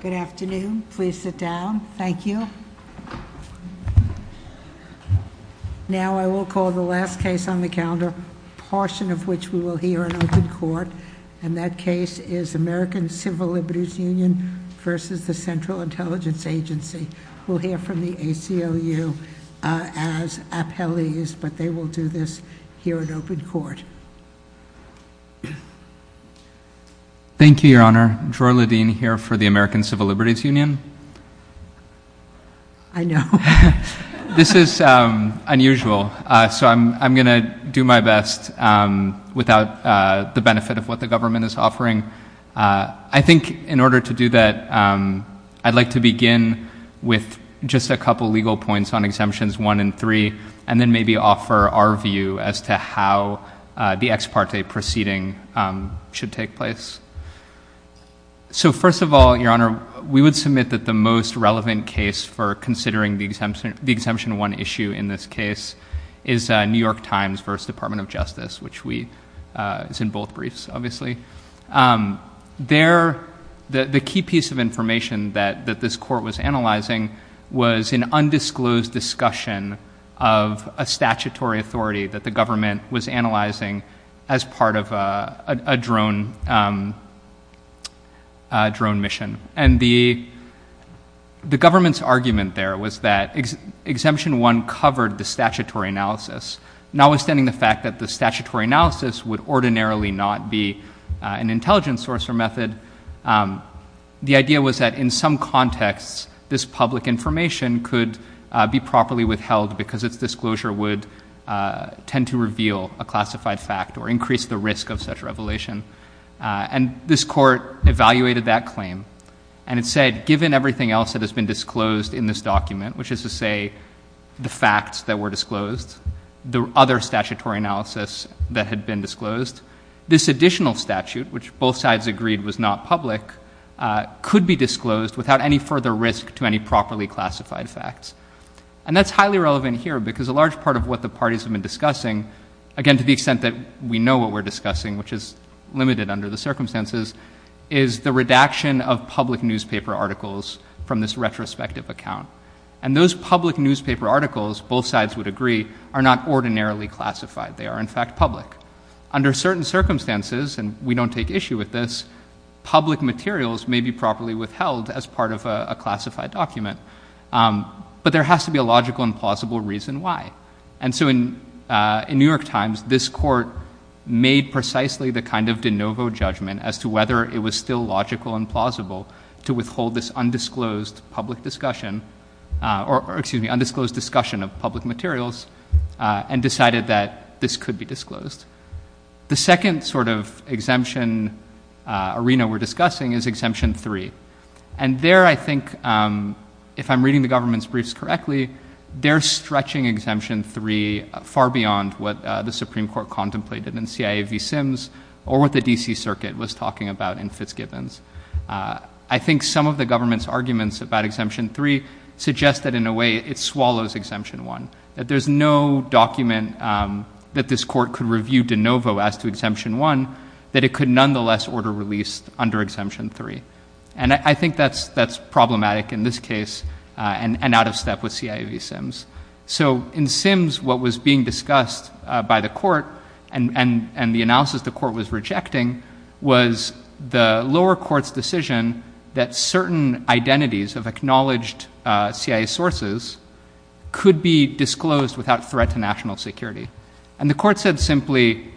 Good afternoon. Please sit down. Thank you. Now I will call the last case on the calendar, a portion of which we will hear in open court. And that case is American Civil Liberties Union versus the Central Intelligence Agency. We'll hear from the ACLU as appellees, but they will do this here in open court. Thank you, Your Honor. Joy Ledeen here for the American Civil Liberties Union. I know. This is unusual, so I'm going to do my best without the benefit of what the government is offering. I think in order to do that, I'd like to begin with just a couple legal points on exemptions 1 and 3, and then maybe offer our view as to how the ex parte proceeding should take place. So first of all, Your Honor, we would submit that the most relevant case for considering the exemption 1 issue in this case is New York Times versus Department of Justice, which is in both briefs, obviously. The key piece of information that this court was analyzing was an undisclosed discussion of a statutory authority that the government was analyzing as part of a drone mission. And the government's argument there was that exemption 1 covered the statutory analysis, notwithstanding the fact that the statutory analysis would ordinarily not be an intelligence source or method. The idea was that in some contexts, this public information could be properly withheld because its disclosure would tend to reveal a classified fact or increase the risk of such revelation. And this court evaluated that claim, and it said, given everything else that has been disclosed in this document, which is to say the facts that were disclosed, the other statutory analysis that had been disclosed, this additional statute, which both sides agreed was not public, could be disclosed without any further risk to any properly classified facts. And that's highly relevant here because a large part of what the parties have been discussing, again, to the extent that we know what we're discussing, which is limited under the circumstances, is the redaction of public newspaper articles from this retrospective account. And those public newspaper articles, both sides would agree, are not ordinarily classified. They are, in fact, public. Under certain circumstances, and we don't take issue with this, public materials may be properly withheld as part of a classified document, but there has to be a logical and plausible reason why. And so in New York Times, this court made precisely the kind of de novo judgment as to whether it was still logical and plausible to withhold this undisclosed public discussion, or excuse me, undisclosed discussion of public materials, and decided that this could be disclosed. The second sort of exemption arena we're discussing is Exemption 3. And there I think, if I'm reading the government's briefs correctly, they're stretching Exemption 3 far beyond what the Supreme Court contemplated in C.I.A. v. Sims or what the D.C. Circuit was talking about in Fitzgibbons. I think some of the government's arguments about Exemption 3 suggest that in a way it swallows Exemption 1, that there's no document that this court could review de novo as to Exemption 1, that it could nonetheless order release under Exemption 3. And I think that's problematic in this case and out of step with C.I.A. v. Sims. So in Sims, what was being discussed by the court and the analysis the court was rejecting was the lower court's decision that certain identities of acknowledged C.I.A. sources could be disclosed without threat to national security. And the court said simply,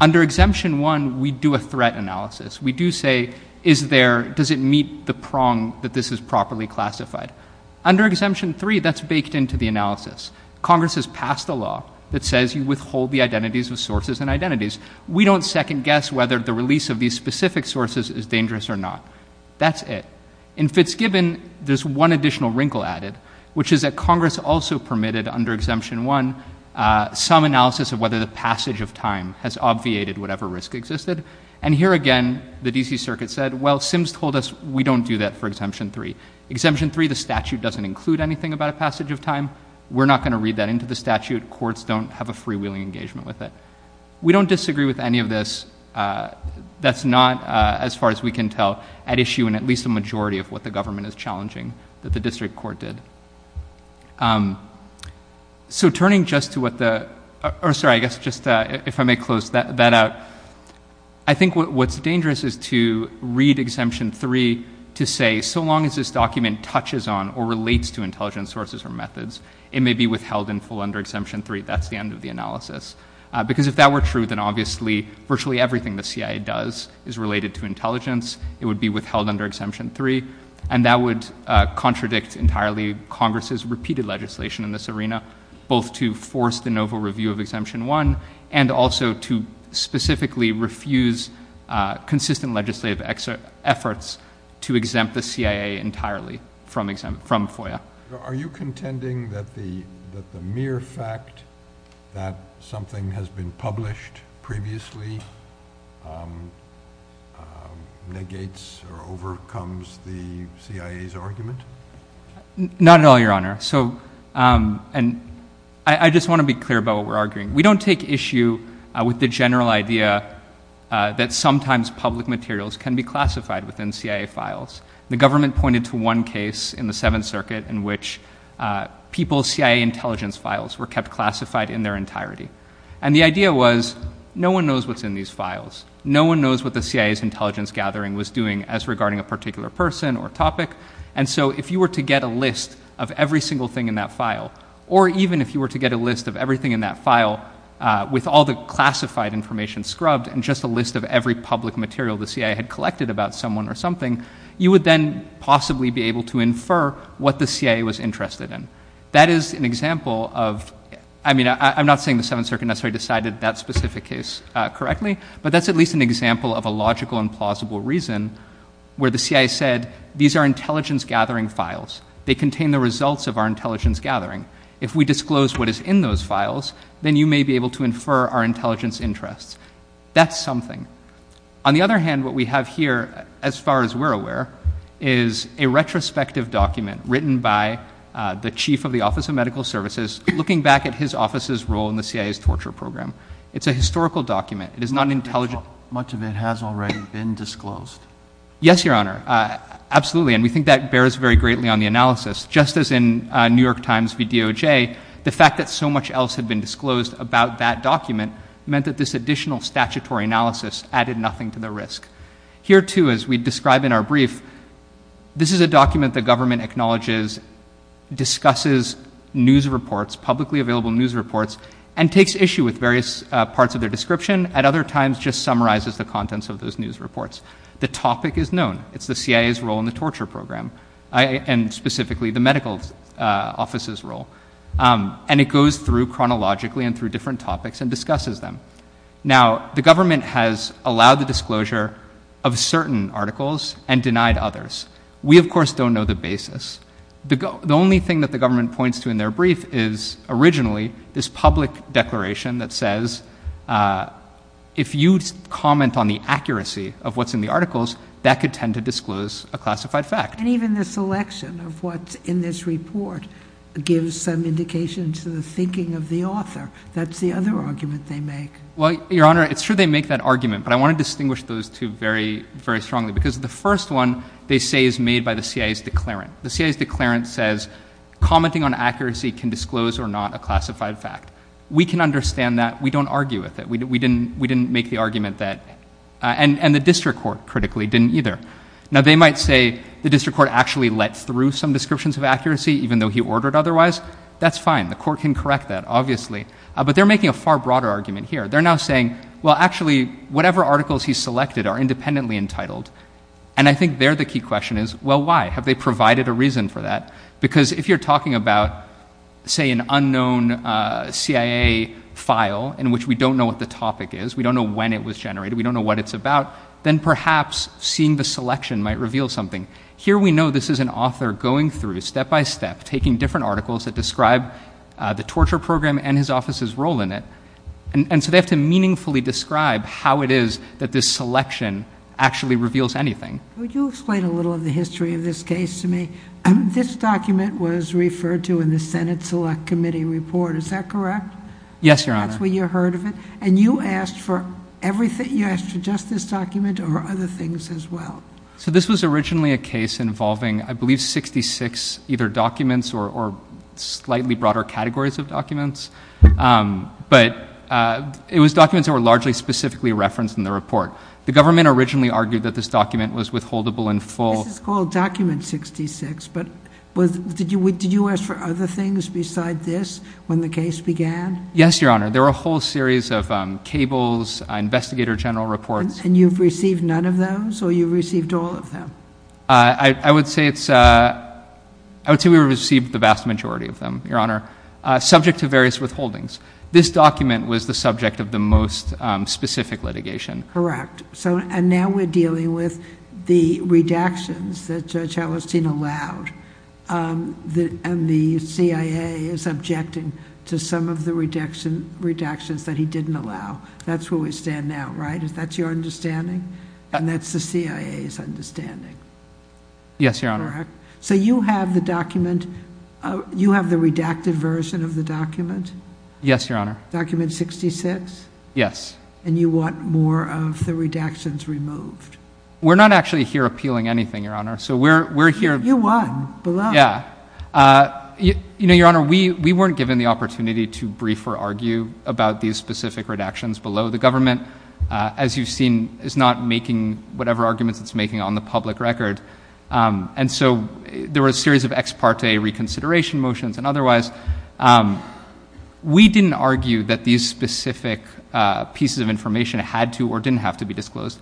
under Exemption 1, we do a threat analysis. We do say, is there, does it meet the prong that this is properly classified? Under Exemption 3, that's baked into the analysis. Congress has passed a law that says you withhold the identities of sources and identities. We don't second guess whether the release of these specific sources is dangerous or not. That's it. In Fitzgibbon, there's one additional wrinkle added, which is that Congress also permitted under Exemption 1 some analysis of whether the passage of time has obviated whatever risk existed. And here again, the D.C. Circuit said, well, Sims told us we don't do that for Exemption 3. Exemption 3, the statute doesn't include anything about a passage of time. We're not going to read that into the statute. Courts don't have a freewheeling engagement with it. We don't disagree with any of this. That's not, as far as we can tell, at issue in at least a majority of what the government is challenging that the district court did. So turning just to what the – or sorry, I guess just if I may close that out. I think what's dangerous is to read Exemption 3 to say, so long as this document touches on or relates to intelligence sources or methods, it may be withheld in full under Exemption 3. That's the end of the analysis. Because if that were true, then obviously virtually everything the CIA does is related to intelligence. It would be withheld under Exemption 3. And that would contradict entirely Congress's repeated legislation in this arena, both to force the novel review of Exemption 1 and also to specifically refuse consistent legislative efforts to exempt the CIA entirely from FOIA. Are you contending that the mere fact that something has been published previously negates or overcomes the CIA's argument? Not at all, Your Honor. So I just want to be clear about what we're arguing. We don't take issue with the general idea that sometimes public materials can be classified within CIA files. The government pointed to one case in the Seventh Circuit in which people's CIA intelligence files were kept classified in their entirety. And the idea was no one knows what's in these files. No one knows what the CIA's intelligence gathering was doing as regarding a particular person or topic. And so if you were to get a list of every single thing in that file, or even if you were to get a list of everything in that file with all the classified information scrubbed and just a list of every public material the CIA had collected about someone or something, you would then possibly be able to infer what the CIA was interested in. That is an example of, I mean, I'm not saying the Seventh Circuit necessarily decided that specific case correctly, but that's at least an example of a logical and plausible reason where the CIA said, these are intelligence gathering files. They contain the results of our intelligence gathering. If we disclose what is in those files, then you may be able to infer our intelligence interests. That's something. On the other hand, what we have here, as far as we're aware, is a retrospective document written by the chief of the Office of Medical Services, looking back at his office's role in the CIA's torture program. It's a historical document. It is not an intelligent. Much of it has already been disclosed. Yes, Your Honor. Absolutely. And we think that bears very greatly on the analysis. Just as in New York Times v. DOJ, the fact that so much else had been disclosed about that document meant that this additional statutory analysis added nothing to the risk. Here, too, as we describe in our brief, this is a document the government acknowledges, discusses news reports, publicly available news reports, and takes issue with various parts of their description. At other times, just summarizes the contents of those news reports. The topic is known. It's the CIA's role in the torture program, and specifically the medical office's role. And it goes through chronologically and through different topics and discusses them. Now, the government has allowed the disclosure of certain articles and denied others. We, of course, don't know the basis. The only thing that the government points to in their brief is, originally, this public declaration that says if you comment on the accuracy of what's in the articles, that could tend to disclose a classified fact. And even the selection of what's in this report gives some indication to the thinking of the author. That's the other argument they make. Well, Your Honor, it's true they make that argument, but I want to distinguish those two very, very strongly because the first one, they say, is made by the CIA's declarant. The CIA's declarant says commenting on accuracy can disclose or not a classified fact. We can understand that. We don't argue with it. We didn't make the argument that, and the district court, critically, didn't either. Now, they might say the district court actually let through some descriptions of accuracy, even though he ordered otherwise. That's fine. The court can correct that, obviously. But they're making a far broader argument here. They're now saying, well, actually, whatever articles he selected are independently entitled. And I think there the key question is, well, why? Have they provided a reason for that? Because if you're talking about, say, an unknown CIA file in which we don't know what the topic is, we don't know when it was generated, we don't know what it's about, then perhaps seeing the selection might reveal something. Here we know this is an author going through, step by step, taking different articles that describe the torture program and his office's role in it. And so they have to meaningfully describe how it is that this selection actually reveals anything. Would you explain a little of the history of this case to me? This document was referred to in the Senate Select Committee report. Is that correct? Yes, Your Honor. That's where you heard of it? And you asked for everything? You asked for just this document or other things as well? So this was originally a case involving, I believe, 66 either documents or slightly broader categories of documents. But it was documents that were largely specifically referenced in the report. The government originally argued that this document was withholdable in full. This is called Document 66. But did you ask for other things besides this when the case began? Yes, Your Honor. There were a whole series of cables, investigator general reports. And you've received none of those or you've received all of them? I would say we received the vast majority of them, Your Honor, subject to various withholdings. This document was the subject of the most specific litigation. Correct. And now we're dealing with the redactions that Judge Hallerstein allowed. And the CIA is objecting to some of the redactions that he didn't allow. That's where we stand now, right? Is that your understanding? And that's the CIA's understanding? Yes, Your Honor. Correct. So you have the document... you have the redacted version of the document? Yes, Your Honor. Document 66? Yes. And you want more of the redactions removed? We're not actually here appealing anything, Your Honor. So we're here... You won. Below. Yeah. You know, Your Honor, we weren't given the opportunity to brief or argue about these specific redactions below. The government, as you've seen, is not making whatever arguments it's making on the public record. And so there were a series of ex parte reconsideration motions and otherwise. We didn't argue that these specific pieces of information had to or didn't have to be disclosed.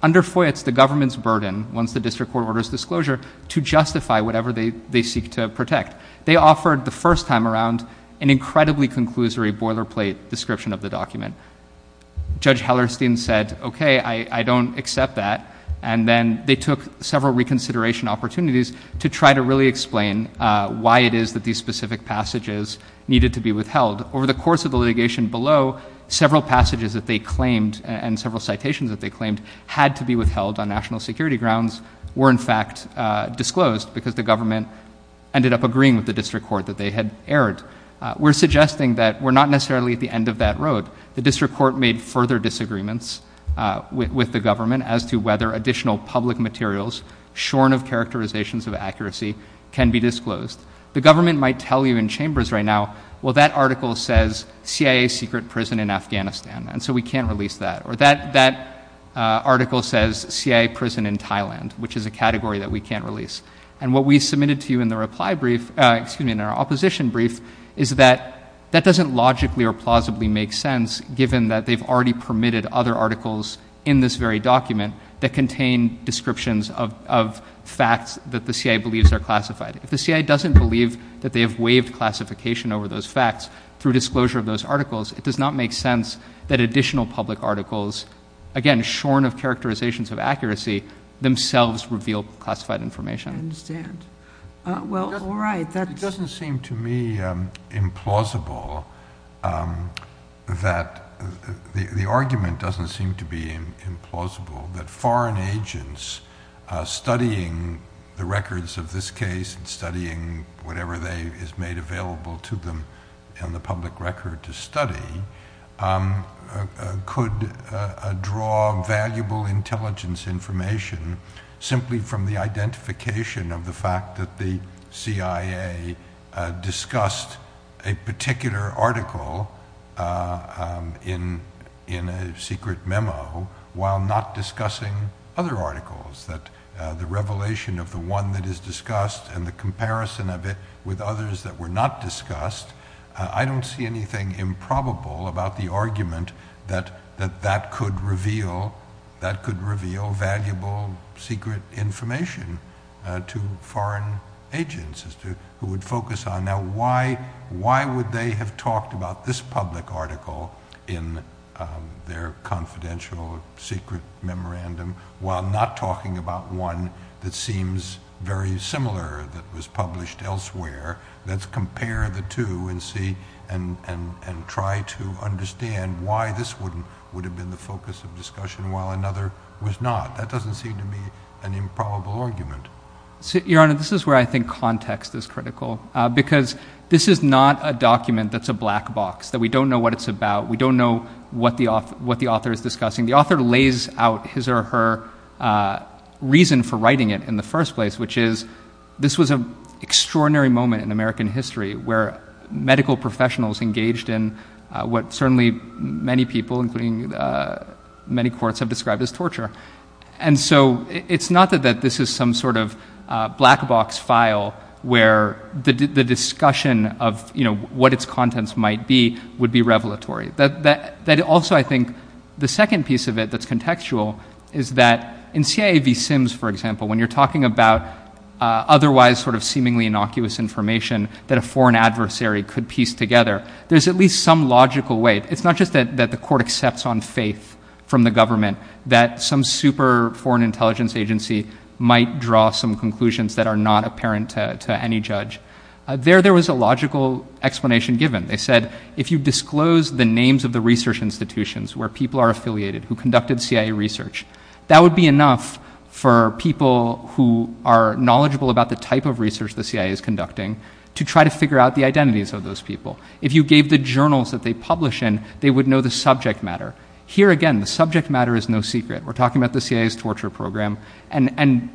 Under FOIA, it's the government's burden, once the district court orders disclosure, to justify whatever they seek to protect. They offered, the first time around, an incredibly conclusory boilerplate description of the document. Judge Hallerstein said, okay, I don't accept that. And then they took several reconsideration opportunities to try to really explain why it is that these specific passages needed to be withheld. Over the course of the litigation below, several passages that they claimed and several citations that they claimed had to be withheld on national security grounds were, in fact, disclosed because the government ended up agreeing with the district court that they had erred. We're suggesting that we're not necessarily at the end of that road. The district court made further disagreements with the government as to whether additional public materials shorn of characterizations of accuracy can be disclosed. The government might tell you in chambers right now, well, that article says CIA secret prison in Afghanistan, and so we can't release that. Or that article says CIA prison in Thailand, which is a category that we can't release. And what we submitted to you in our opposition brief is that that doesn't logically or plausibly make sense, given that they've already permitted other articles in this very document that contain descriptions of facts that the CIA believes are classified. If the CIA doesn't believe that they have waived classification over those facts through disclosure of those articles, it does not make sense that additional public articles, again, shorn of characterizations of accuracy, themselves reveal classified information. I understand. Well, all right. It doesn't seem to me implausible that the argument doesn't seem to be implausible that foreign agents studying the records of this case and studying whatever is made available to them in the public record to study could draw valuable intelligence information simply from the identification of the fact that the CIA discussed a particular article in a secret memo while not discussing other articles, that the revelation of the one that is discussed and the comparison of it with others that were not discussed, I don't see anything improbable about the argument that that could reveal valuable secret information to foreign agents who would focus on now why would they have talked about this public article in their confidential secret memorandum while not talking about one that seems very similar that was published elsewhere. Let's compare the two and see and try to understand why this would have been the focus of discussion while another was not. That doesn't seem to be an improbable argument. Your Honor, this is where I think context is critical because this is not a document that's a black box, that we don't know what it's about. We don't know what the author is discussing. The author lays out his or her reason for writing it in the first place, which is this was an extraordinary moment in American history where medical professionals engaged in what certainly many people, including many courts, have described as torture. It's not that this is some sort of black box file where the discussion of what its contents might be would be revelatory. Also, I think the second piece of it that's contextual is that in CIA v. Sims, for example, when you're talking about otherwise seemingly innocuous information that a foreign adversary could piece together, there's at least some logical way. It's not just that the court accepts on faith from the government that some super foreign intelligence agency might draw some conclusions that are not apparent to any judge. There was a logical explanation given. They said if you disclose the names of the research institutions where people are affiliated who conducted CIA research, that would be enough for people who are knowledgeable about the type of research the CIA is conducting to try to figure out the identities of those people. If you gave the journals that they publish in, they would know the subject matter. Here again, the subject matter is no secret. We're talking about the CIA's torture program, and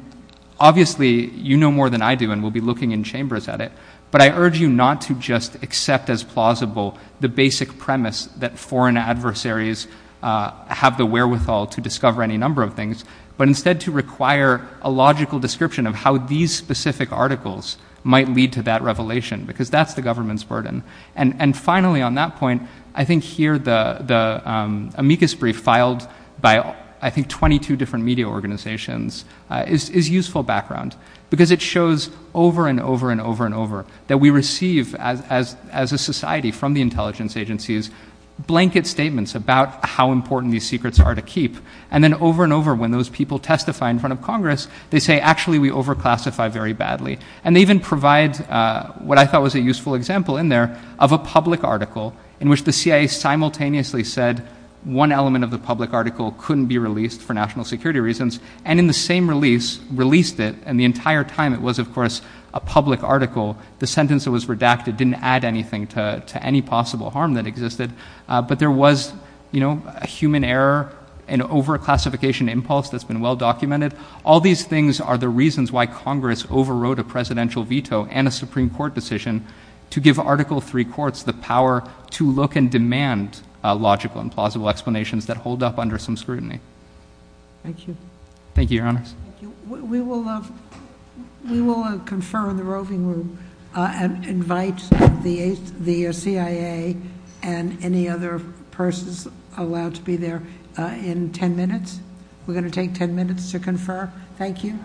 obviously you know more than I do, and we'll be looking in chambers at it, but I urge you not to just accept as plausible the basic premise that foreign adversaries have the wherewithal to discover any number of things, but instead to require a logical description of how these specific articles might lead to that revelation because that's the government's burden. And finally on that point, I think here the amicus brief filed by I think 22 different media organizations is useful background because it shows over and over and over and over that we receive as a society from the intelligence agencies blanket statements about how important these secrets are to keep, and then over and over when those people testify in front of Congress, they say actually we over classify very badly. And they even provide what I thought was a useful example in there of a public article in which the CIA simultaneously said one element of the public article couldn't be released for national security reasons, and in the same release released it, and the entire time it was of course a public article. The sentence that was redacted didn't add anything to any possible harm that existed, but there was a human error, an over classification impulse that's been well documented. All these things are the reasons why Congress overwrote a presidential veto and a Supreme Court decision to give Article III courts the power to look and demand logical and plausible explanations that hold up under some scrutiny. Thank you. Thank you, Your Honors. Thank you. We will confer in the roving room and invite the CIA and any other persons allowed to be there in ten minutes. We're going to take ten minutes to confer. Thank you.